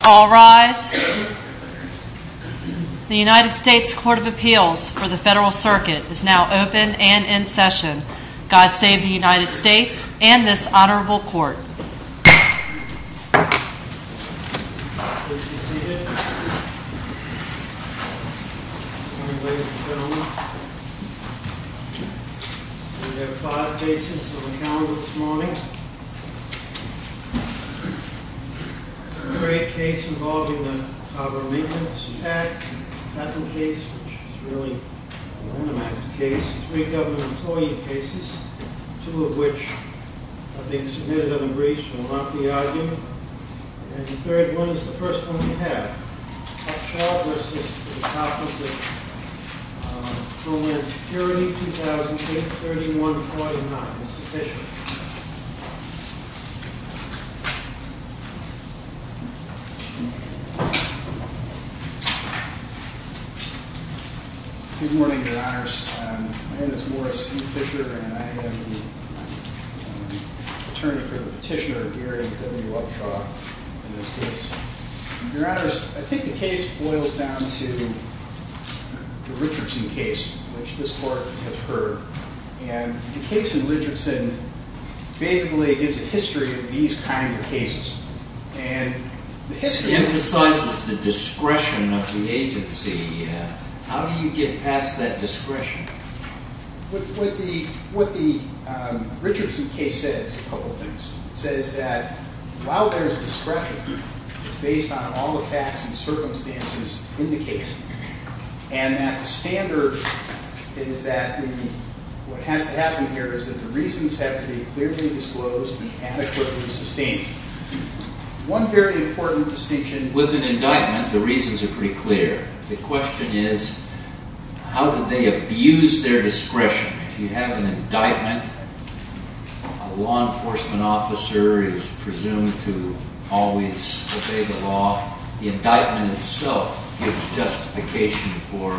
All rise. The United States Court of Appeals for the Federal Circuit is now open and in session. God save the United States and this honorable court. Would you see it? We have five cases on the calendar this morning. A great case involving the Poverty Relief Act, a patent case which is really an enigmatic case, three government employee cases, two of which have been submitted on the briefs and will not be argued, and the third one is the first one we have, Upshaw v. Department of Homeland Security 2008-31-49, Mr. Fisher. Good morning, your honors. My name is Morris C. Fisher and I am the attorney for the petitioner Gary W. Upshaw in this case. Your honors, I think the case boils down to the Richardson case, which this court has heard, and the case in Richardson basically gives a history of these kinds of cases. It emphasizes the discretion of the agency. How do you get past that discretion? What the Richardson case says is a couple of things. It says that while there is discretion, it's based on all the facts and circumstances in the case. And that the standard is that what has to happen here is that the reasons have to be clearly disclosed and adequately sustained. One very important distinction with an indictment, the reasons are pretty clear. The question is how do they abuse their discretion? If you have an indictment, a law enforcement officer is presumed to always obey the law. The indictment itself gives justification for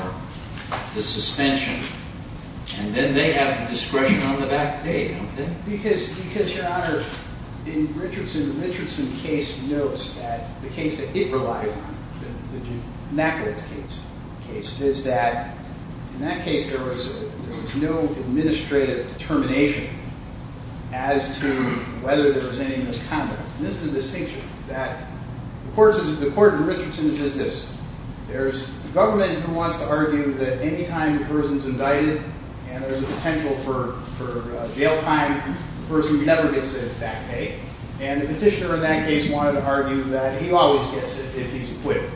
the suspension. And then they have the discretion on the back page. Because, your honors, in the Richardson case notes that the case that it relies on, the McEwitt case, is that in that case there was no administrative determination as to whether there was any misconduct. This is a distinction. The court in Richardson says this. There's a government who wants to argue that any time a person's indicted and there's a potential for jail time, the person never gets the back pay. And the petitioner in that case wanted to argue that he always gets it if he's acquitted.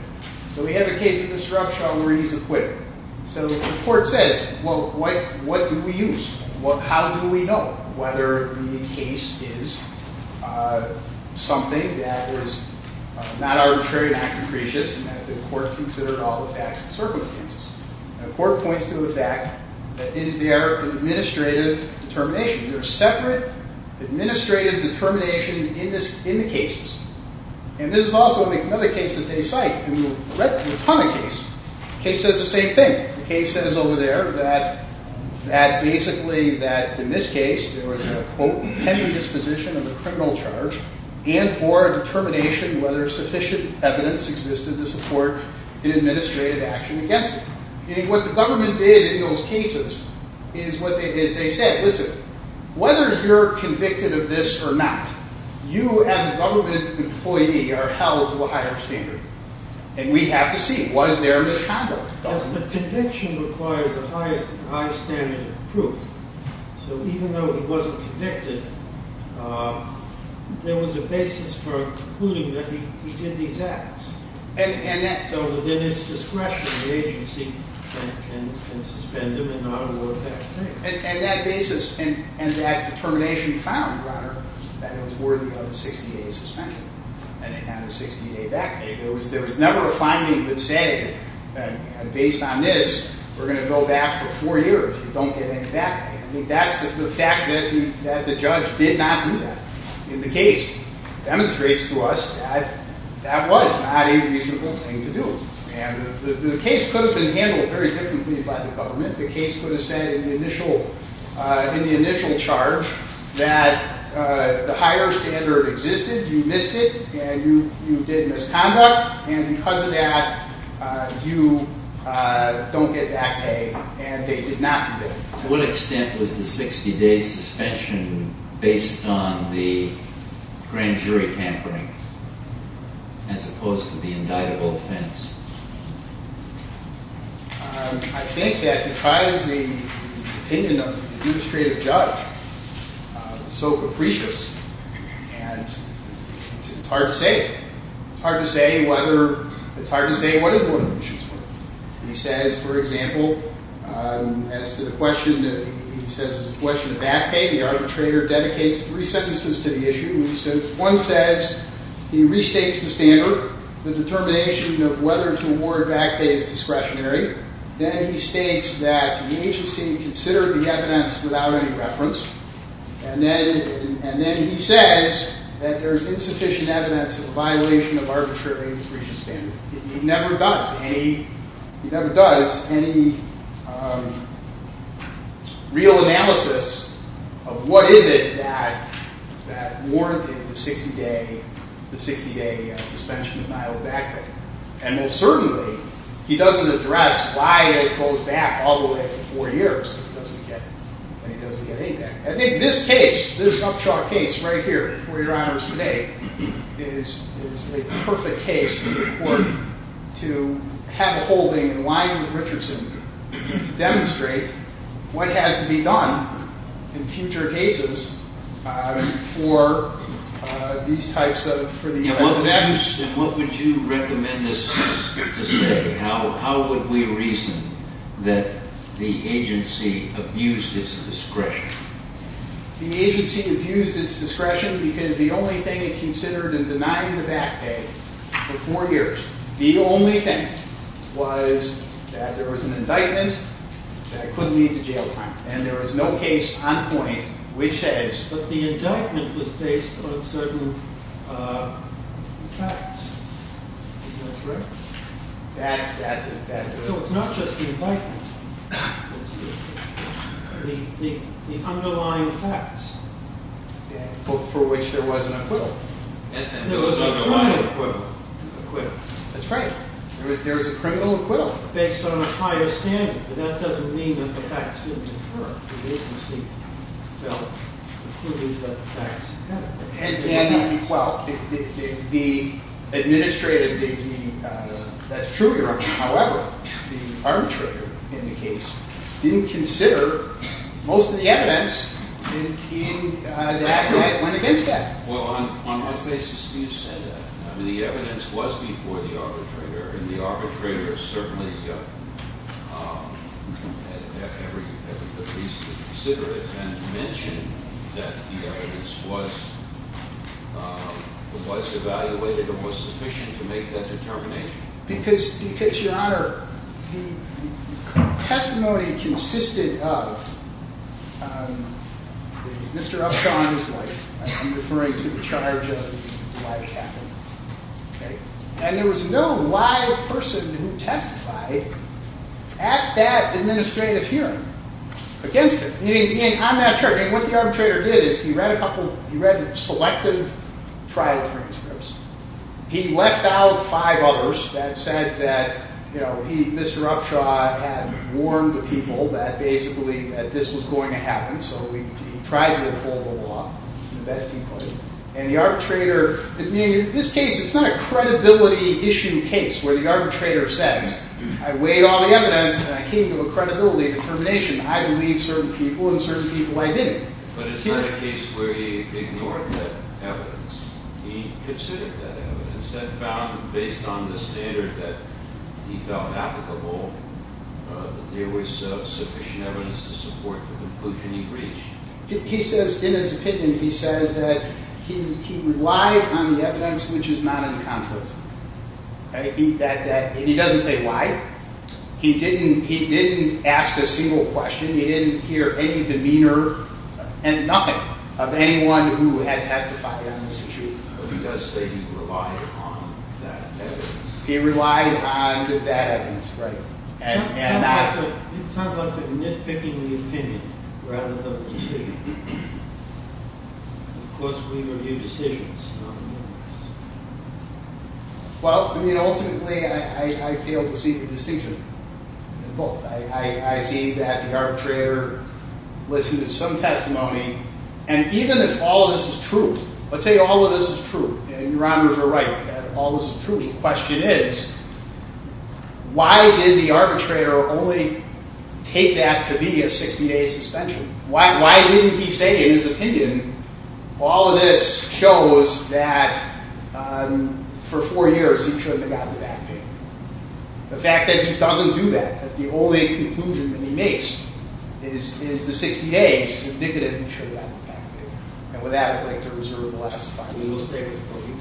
So we have a case of disruption where he's acquitted. So the court says, well, what do we use? How do we know whether the case is something that was not arbitrary, not capricious, and that the court considered all the facts and circumstances? And the court points to the fact that is there an administrative determination? Is there a separate administrative determination in the cases? And this is also another case that they cite. And we've read a ton of cases. The case says the same thing. The case says over there that basically in this case there was a, quote, tender disposition of a criminal charge and for determination whether sufficient evidence existed to support an administrative action against him. And what the government did in those cases is they said, listen, whether you're convicted of this or not, you as a government employee are held to a higher standard. And we have to see, was there misconduct? The conviction requires a high standard of proof. So even though he wasn't convicted, there was a basis for concluding that he did these acts. So within his discretion, the agency can suspend him and not award back pay. And that basis and that determination found, Your Honor, that it was worthy of a 60-day suspension. And it had a 60-day back pay. There was never a finding that said, based on this, we're going to go back for four years. We don't get any back pay. I think that's the fact that the judge did not do that. And the case demonstrates to us that that was not a reasonable thing to do. And the case could have been handled very differently by the government. The case could have said in the initial charge that the higher standard existed, you missed it, and you did misconduct. And because of that, you don't get back pay. And they did not do that. So to what extent was the 60-day suspension based on the grand jury tampering as opposed to the indictable offense? I think that because the opinion of the administrative judge was so capricious and it's hard to say. It's hard to say what is one of the issues. He says, for example, as to the question of back pay, the arbitrator dedicates three sentences to the issue. One says, he restates the standard. The determination of whether to award back pay is discretionary. Then he states that the agency considered the evidence without any reference. And then he says that there's insufficient evidence of a violation of arbitrary infringement standards. He never does any real analysis of what is it that warranted the 60-day suspension denial of back pay. And most certainly, he doesn't address why it goes back all the way to four years when he doesn't get any back pay. I think this case, this Upshaw case right here before your honors today, is a perfect case for the court to have a holding in line with Richardson to demonstrate what has to be done in future cases for these types of cases. And what would you recommend us to say? How would we reason that the agency abused its discretion? The agency abused its discretion because the only thing it considered in denying the back pay for four years, the only thing was that there was an indictment that could lead to jail time. And there was no case on point which says that the indictment was based on certain facts. Is that correct? So it's not just the indictment. The underlying facts for which there was an acquittal. There was a criminal acquittal. That's right. There was a criminal acquittal. Based on a higher standard. But that doesn't mean that the facts didn't occur. The agency felt that the facts did. Well, the administrative, that's true, your honor. However, the arbitrator in the case didn't consider most of the evidence in the act that went against him. Well, on what basis do you say that? The evidence was before the arbitrator, and the arbitrator certainly had every reason to consider it and mention that the evidence was evaluated and was sufficient to make that determination. Because, your honor, the testimony consisted of Mr. Upshaw and his wife. I'm referring to the charge of the wife captain. And there was no live person who testified at that administrative hearing against him. I'm not sure. What the arbitrator did is he read a couple, he read selective trial transcripts. He left out five others that said that Mr. Upshaw had warned the people that basically this was going to happen. So he tried to uphold the law in the best he could. And the arbitrator, in this case, it's not a credibility issue case where the arbitrator says, I weighed all the evidence and I came to a credibility determination. I believe certain people and certain people I didn't. But it's not a case where he ignored that evidence. He considered that evidence and found, based on the standard that he felt applicable, there was sufficient evidence to support the conclusion he reached. He says, in his opinion, he says that he relied on the evidence which is not in conflict. And he doesn't say why. He didn't ask a single question. He didn't hear any demeanor and nothing of anyone who had testified on this issue. He does say he relied on that evidence. He relied on that evidence, right. It sounds like you're nitpicking the opinion rather than the decision. Of course, we review decisions, not the evidence. Well, I mean, ultimately, I failed to see the distinction in both. I see that the arbitrator listened to some testimony. And even if all of this is true, let's say all of this is true. Your honors are right that all of this is true. The question is, why did the arbitrator only take that to be a 60-day suspension? Why did he say, in his opinion, all of this shows that for four years he shouldn't have gotten the back pay? The fact that he doesn't do that, that the only conclusion that he makes is the 60 days, is indicative that he should have gotten the back pay. And with that, I'd like to reserve the last five minutes. Thank you.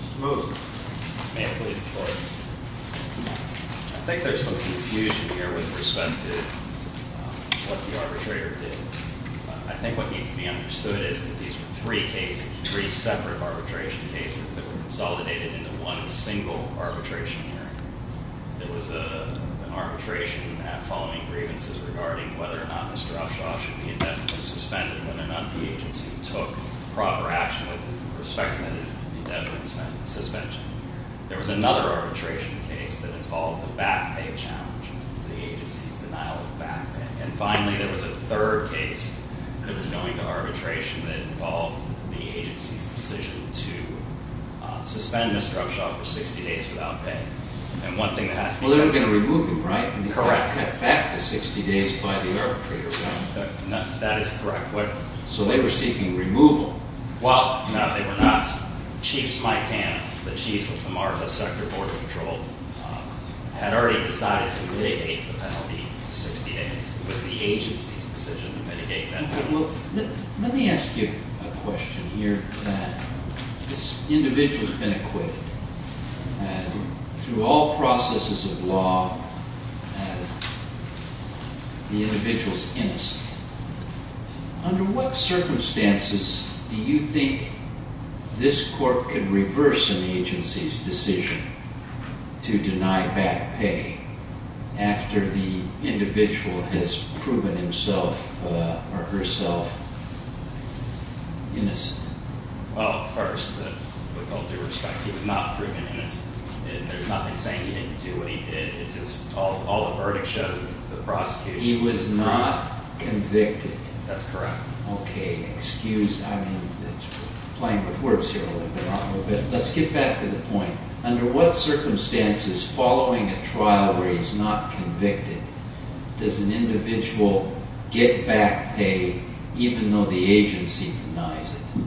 Mr. Moore. May I please report? I think there's some confusion here with respect to what the arbitrator did. I think what needs to be understood is that these were three cases, three separate arbitration cases, that were consolidated into one single arbitration hearing. There was an arbitration following grievances regarding whether or not Mr. Oshawa should be indefinitely suspended, whether or not the agency took proper action with respect to the indefinite suspension. There was another arbitration case that involved the back pay challenge, the agency's denial of back pay. And finally, there was a third case that was going to arbitration that involved the agency's decision to suspend Mr. Oshawa for 60 days without pay. And one thing that has to be- Well, they were going to remove him, right? Correct. Back to 60 days by the arbitrator, right? That is correct. So they were seeking removal. Well, no, they were not. Chief Smitan, the chief of the Marfa Sector Border Patrol, had already decided to mitigate the penalty to 60 days. It was the agency's decision to mitigate that penalty. Let me ask you a question here. This individual has been acquitted. And through all processes of law, the individual is innocent. Under what circumstances do you think this court could reverse an agency's decision to deny back pay after the individual has proven himself or herself innocent? Well, first, with all due respect, he was not proven innocent. There's nothing saying he didn't do what he did. It's just all the verdict shows is the prosecution- He was not convicted. That's correct. Okay, excuse- I mean, it's playing with words here a little bit. Let's get back to the point. Under what circumstances, following a trial where he's not convicted, does an individual get back pay even though the agency denies it?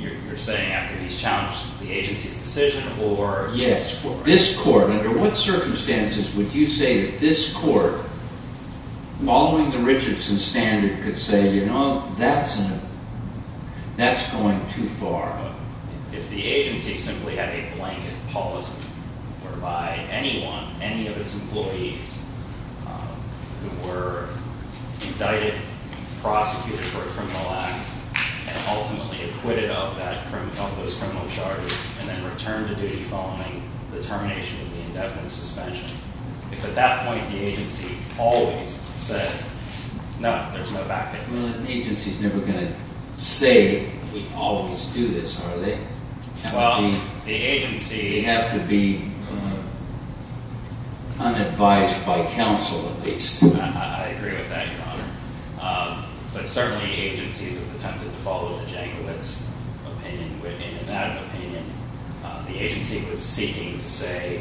You're saying after he's challenged the agency's decision or- Yes. This court, under what circumstances would you say that this court, following the Richardson standard, could say, you know, that's going too far? If the agency simply had a blanket policy whereby anyone, any of its employees, who were indicted, prosecuted for a criminal act, and ultimately acquitted of those criminal charges and then returned to duty following the termination of the indefinite suspension, if at that point the agency always said, no, there's no back pay? Well, an agency's never going to say, we always do this, are they? Well, the agency- They have to be unadvised by counsel, at least. I agree with that, Your Honor. But certainly agencies have attempted to follow the Jankowitz opinion. In that opinion, the agency was seeking to say,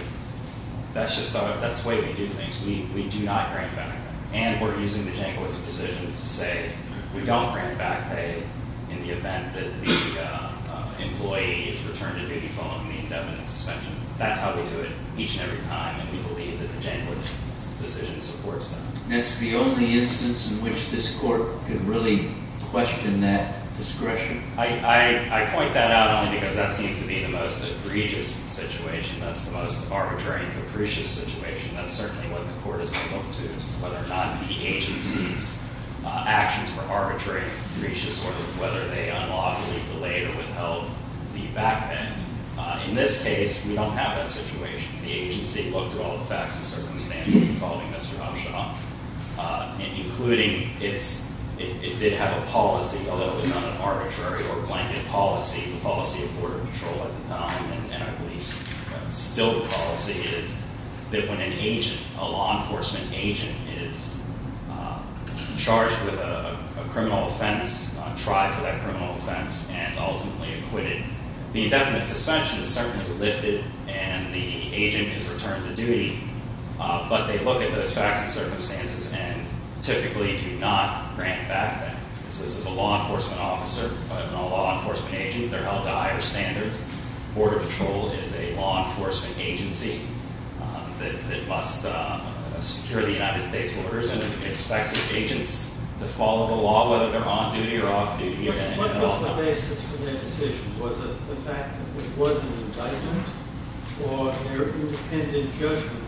that's just the way we do things. We do not grant back pay. And we're using the Jankowitz decision to say we don't grant back pay in the event that the employee is returned to duty following the indefinite suspension. That's how we do it each and every time, and we believe that the Jankowitz decision supports that. That's the only instance in which this court can really question that discretion. I point that out only because that seems to be the most egregious situation. That's the most arbitrary and capricious situation. That's certainly what the court has to look to, as to whether or not the agency's actions were arbitrary and capricious or whether they unlawfully delayed or withheld the back pay. In this case, we don't have that situation. The agency looked at all the facts and circumstances involving Mr. Hopshaw, including it did have a policy, although it was not an arbitrary or blanket policy. The policy of Border Patrol at the time, and I believe still the policy, is that when an agent, a law enforcement agent, is charged with a criminal offense, tried for that criminal offense, and ultimately acquitted, the indefinite suspension is certainly lifted and the agent is returned to duty. But they look at those facts and circumstances and typically do not grant that. This is a law enforcement officer, not a law enforcement agent. They're held to higher standards. Border Patrol is a law enforcement agency that must secure the United States orders and expects its agents to follow the law, whether they're on duty or off duty. What was the basis for their decision? Was it the fact that it was an indictment or their independent judgment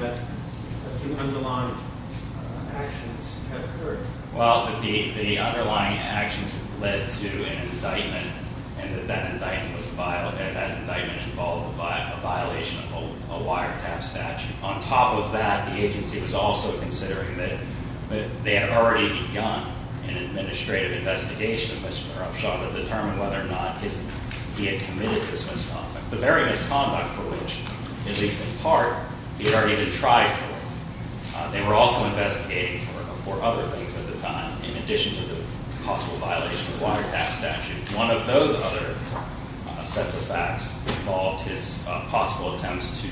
that the underlying actions had occurred? Well, the underlying actions led to an indictment, and that that indictment involved a violation of a wiretap statute. On top of that, the agency was also considering that they had already begun an administrative investigation of Mr. Upshaw to determine whether or not he had committed this misconduct, the very misconduct for which, at least in part, he had already been tried for. They were also investigating for other things at the time. In addition to the possible violation of the wiretap statute, one of those other sets of facts involved his possible attempts to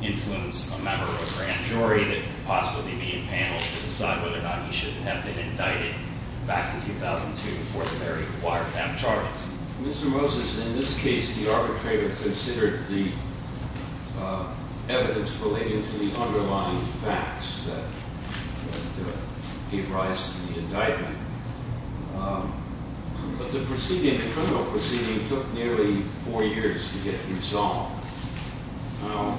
influence a member of a grand jury that could possibly be impaneled to decide whether or not he should have been indicted back in 2002 for the very wiretap charges. Mr. Moses, in this case, the arbitrator considered the evidence relating to the underlying facts that gave rise to the indictment. But the proceeding, the criminal proceeding, took nearly four years to get resolved. Now,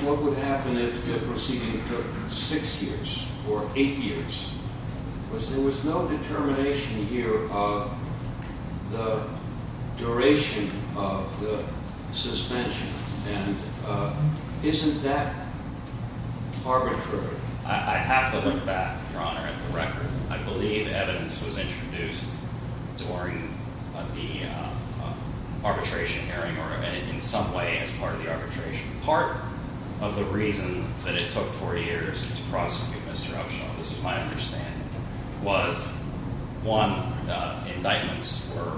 what would happen if the proceeding took six years or eight years? Because there was no determination here of the duration of the suspension, and isn't that arbitrary? I have to look back, Your Honor, at the record. I believe evidence was introduced during the arbitration hearing or in some way as part of the arbitration. Part of the reason that it took four years to prosecute Mr. Upshaw, this is my understanding, was, one, the indictments were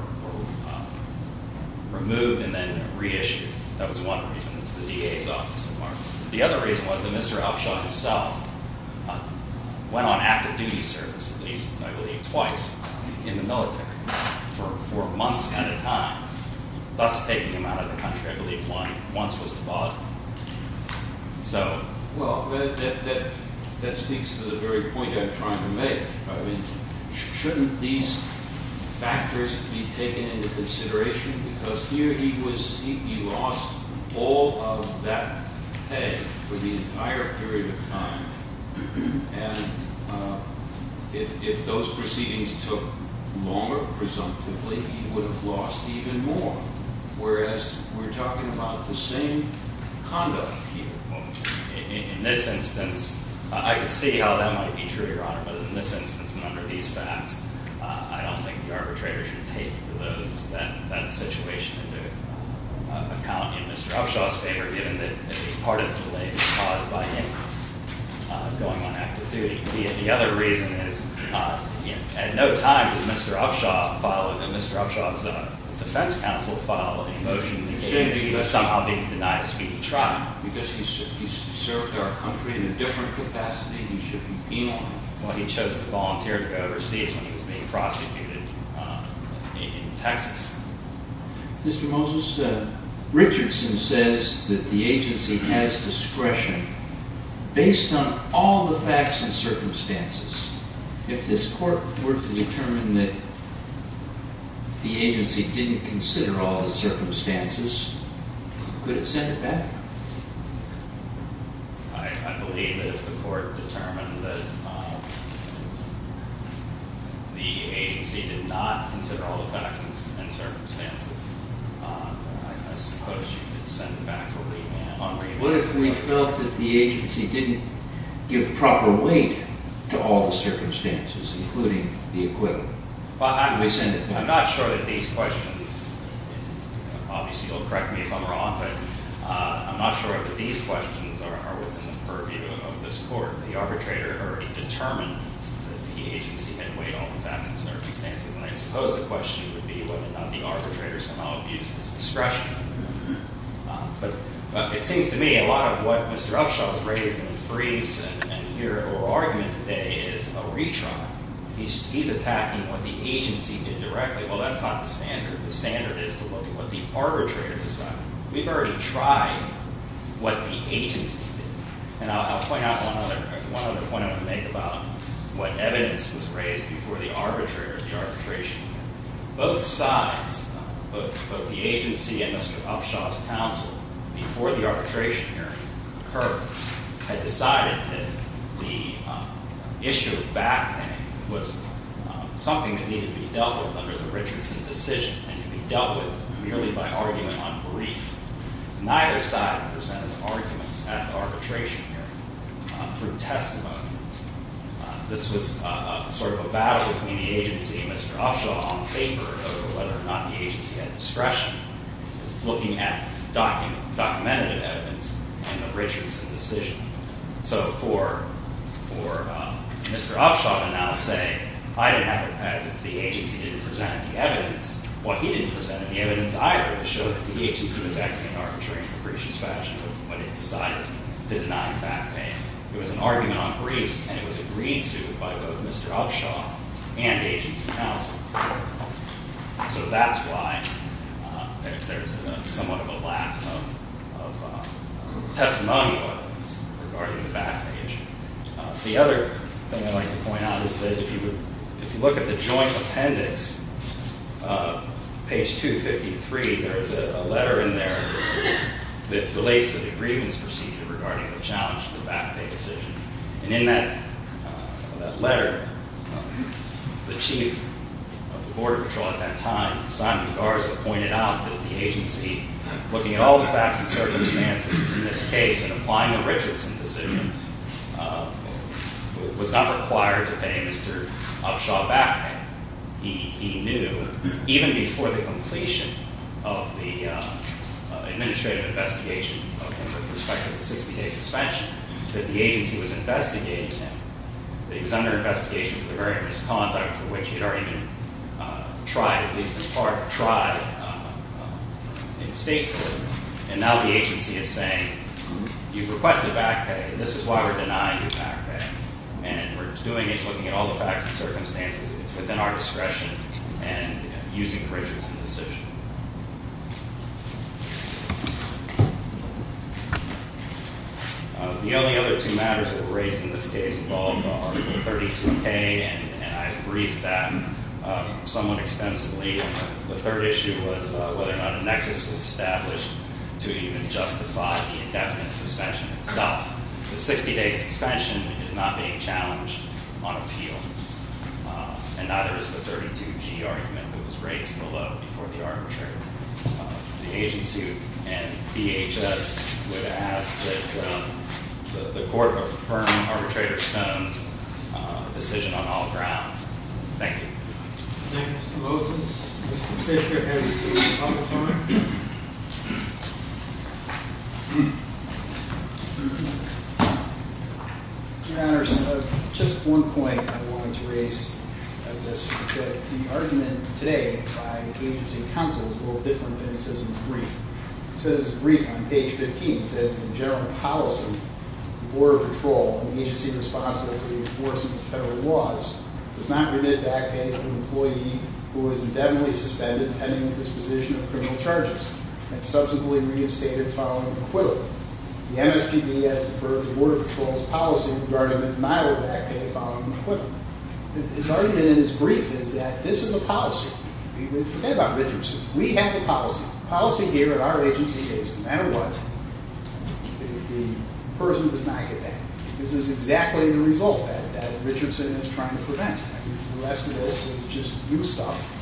removed and then reissued. That was one reason. It's the DA's office, of course. The other reason was that Mr. Upshaw himself went on active duty service at least, I believe twice, in the military for months at a time, thus taking him out of the country. I believe once was to Boston. Well, that speaks to the very point I'm trying to make. I mean, shouldn't these factors be taken into consideration? Because here he lost all of that pay for the entire period of time, and if those proceedings took longer, presumptively, he would have lost even more, whereas we're talking about the same conduct here. In this instance, I could see how that might be true, Your Honor, but in this instance and under these facts, I don't think the arbitrator should take those. That's a situation to account in Mr. Upshaw's favor, given that he's part of the delay caused by him going on active duty. The other reason is at no time did Mr. Upshaw file, did Mr. Upshaw's defense counsel file a motion that he was somehow being denied a speedy trial. Because he served our country in a different capacity. He should be penalized. Well, he chose to volunteer to go overseas when he was being prosecuted in Texas. Mr. Moses, Richardson says that the agency has discretion based on all the facts and circumstances. If this court were to determine that the agency didn't consider all the circumstances, could it send it back? I believe that if the court determined that the agency did not consider all the facts and circumstances, I suppose you could send it back for re-enactment. What if we felt that the agency didn't give proper weight to all the circumstances, including the equivalent? I'm not sure that these questions, obviously you'll correct me if I'm wrong, but I'm not sure that these questions are within the purview of this court. The arbitrator had already determined that the agency had weighed all the facts and circumstances, and I suppose the question would be whether or not the arbitrator somehow abused his discretion. But it seems to me a lot of what Mr. Upshaw has raised in his briefs and here at oral argument today is a retry. He's attacking what the agency did directly. Well, that's not the standard. The standard is to look at what the arbitrator decided. We've already tried what the agency did. And I'll point out one other point I want to make about what evidence was raised before the arbitrator, the arbitration hearing. Both sides, both the agency and Mr. Upshaw's counsel, before the arbitration hearing occurred, had decided that the issue of backhand was something that needed to be dealt with under the Richardson decision and could be dealt with merely by argument on brief. Neither side presented arguments at the arbitration hearing through testimony. This was sort of a battle between the agency and Mr. Upshaw on paper over whether or not the agency had discretion. Looking at documented evidence in the Richardson decision. So for Mr. Upshaw to now say, I didn't have a patent. The agency didn't present any evidence. Well, he didn't present any evidence either to show that the agency was acting in arbitrary and capricious fashion when it decided to deny backhand. It was an argument on briefs, and it was agreed to by both Mr. Upshaw and the agency counsel. So that's why there's somewhat of a lack of testimonial evidence regarding the backhand issue. The other thing I'd like to point out is that if you look at the joint appendix, page 253, there is a letter in there that relates to the grievance procedure regarding the challenge to the backhand decision. And in that letter, the chief of the border patrol at that time, Simon Garza, pointed out that the agency, looking at all the facts and circumstances in this case and applying the Richardson decision, was not required to pay Mr. Upshaw backhand. He knew, even before the completion of the administrative investigation of him with respect to the 60-day suspension, that the agency was investigating him, that he was under investigation for the very misconduct for which he had already been tried, at least in part tried, in state court. And now the agency is saying, you've requested backpay, and this is why we're denying your backpay. And we're doing it, looking at all the facts and circumstances. It's within our discretion and using Richardson's decision. The only other two matters that were raised in this case involved Article 32K, and I've briefed that somewhat extensively. The third issue was whether or not a nexus was established to even justify the indefinite suspension itself. The 60-day suspension is not being challenged on appeal, and neither is the 32G argument that was raised below before the arbitrator. The agency and DHS would ask that the court confirm Arbitrator Stone's decision on all grounds. Thank you. Thank you, Mr. Moses. Mr. Fisher has a couple of time. Your Honor, just one point I wanted to raise on this. The argument today by agency counsel is a little different than it says in the brief. It says in the brief on page 15, it says, In general policy, the Board of Patrol and the agency responsible for the enforcement of federal laws does not permit backpaying to an employee who is indefinitely suspended pending the disposition of criminal charges and subsequently reinstated following acquittal. The MSPB has deferred the Board of Patrol's policy regarding the denial of backpaying following acquittal. His argument in his brief is that this is a policy. Forget about Richardson. We have the policy. The policy here at our agency is no matter what, the person does not get back. This is exactly the result that Richardson is trying to prevent. The rest of this is just new stuff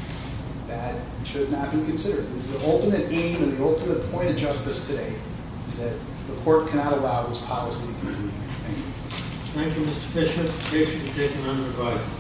that should not be considered. The ultimate aim and the ultimate point of justice today is that the court cannot allow this policy to continue. Thank you. Thank you, Mr. Fisher. Case can be taken under revised.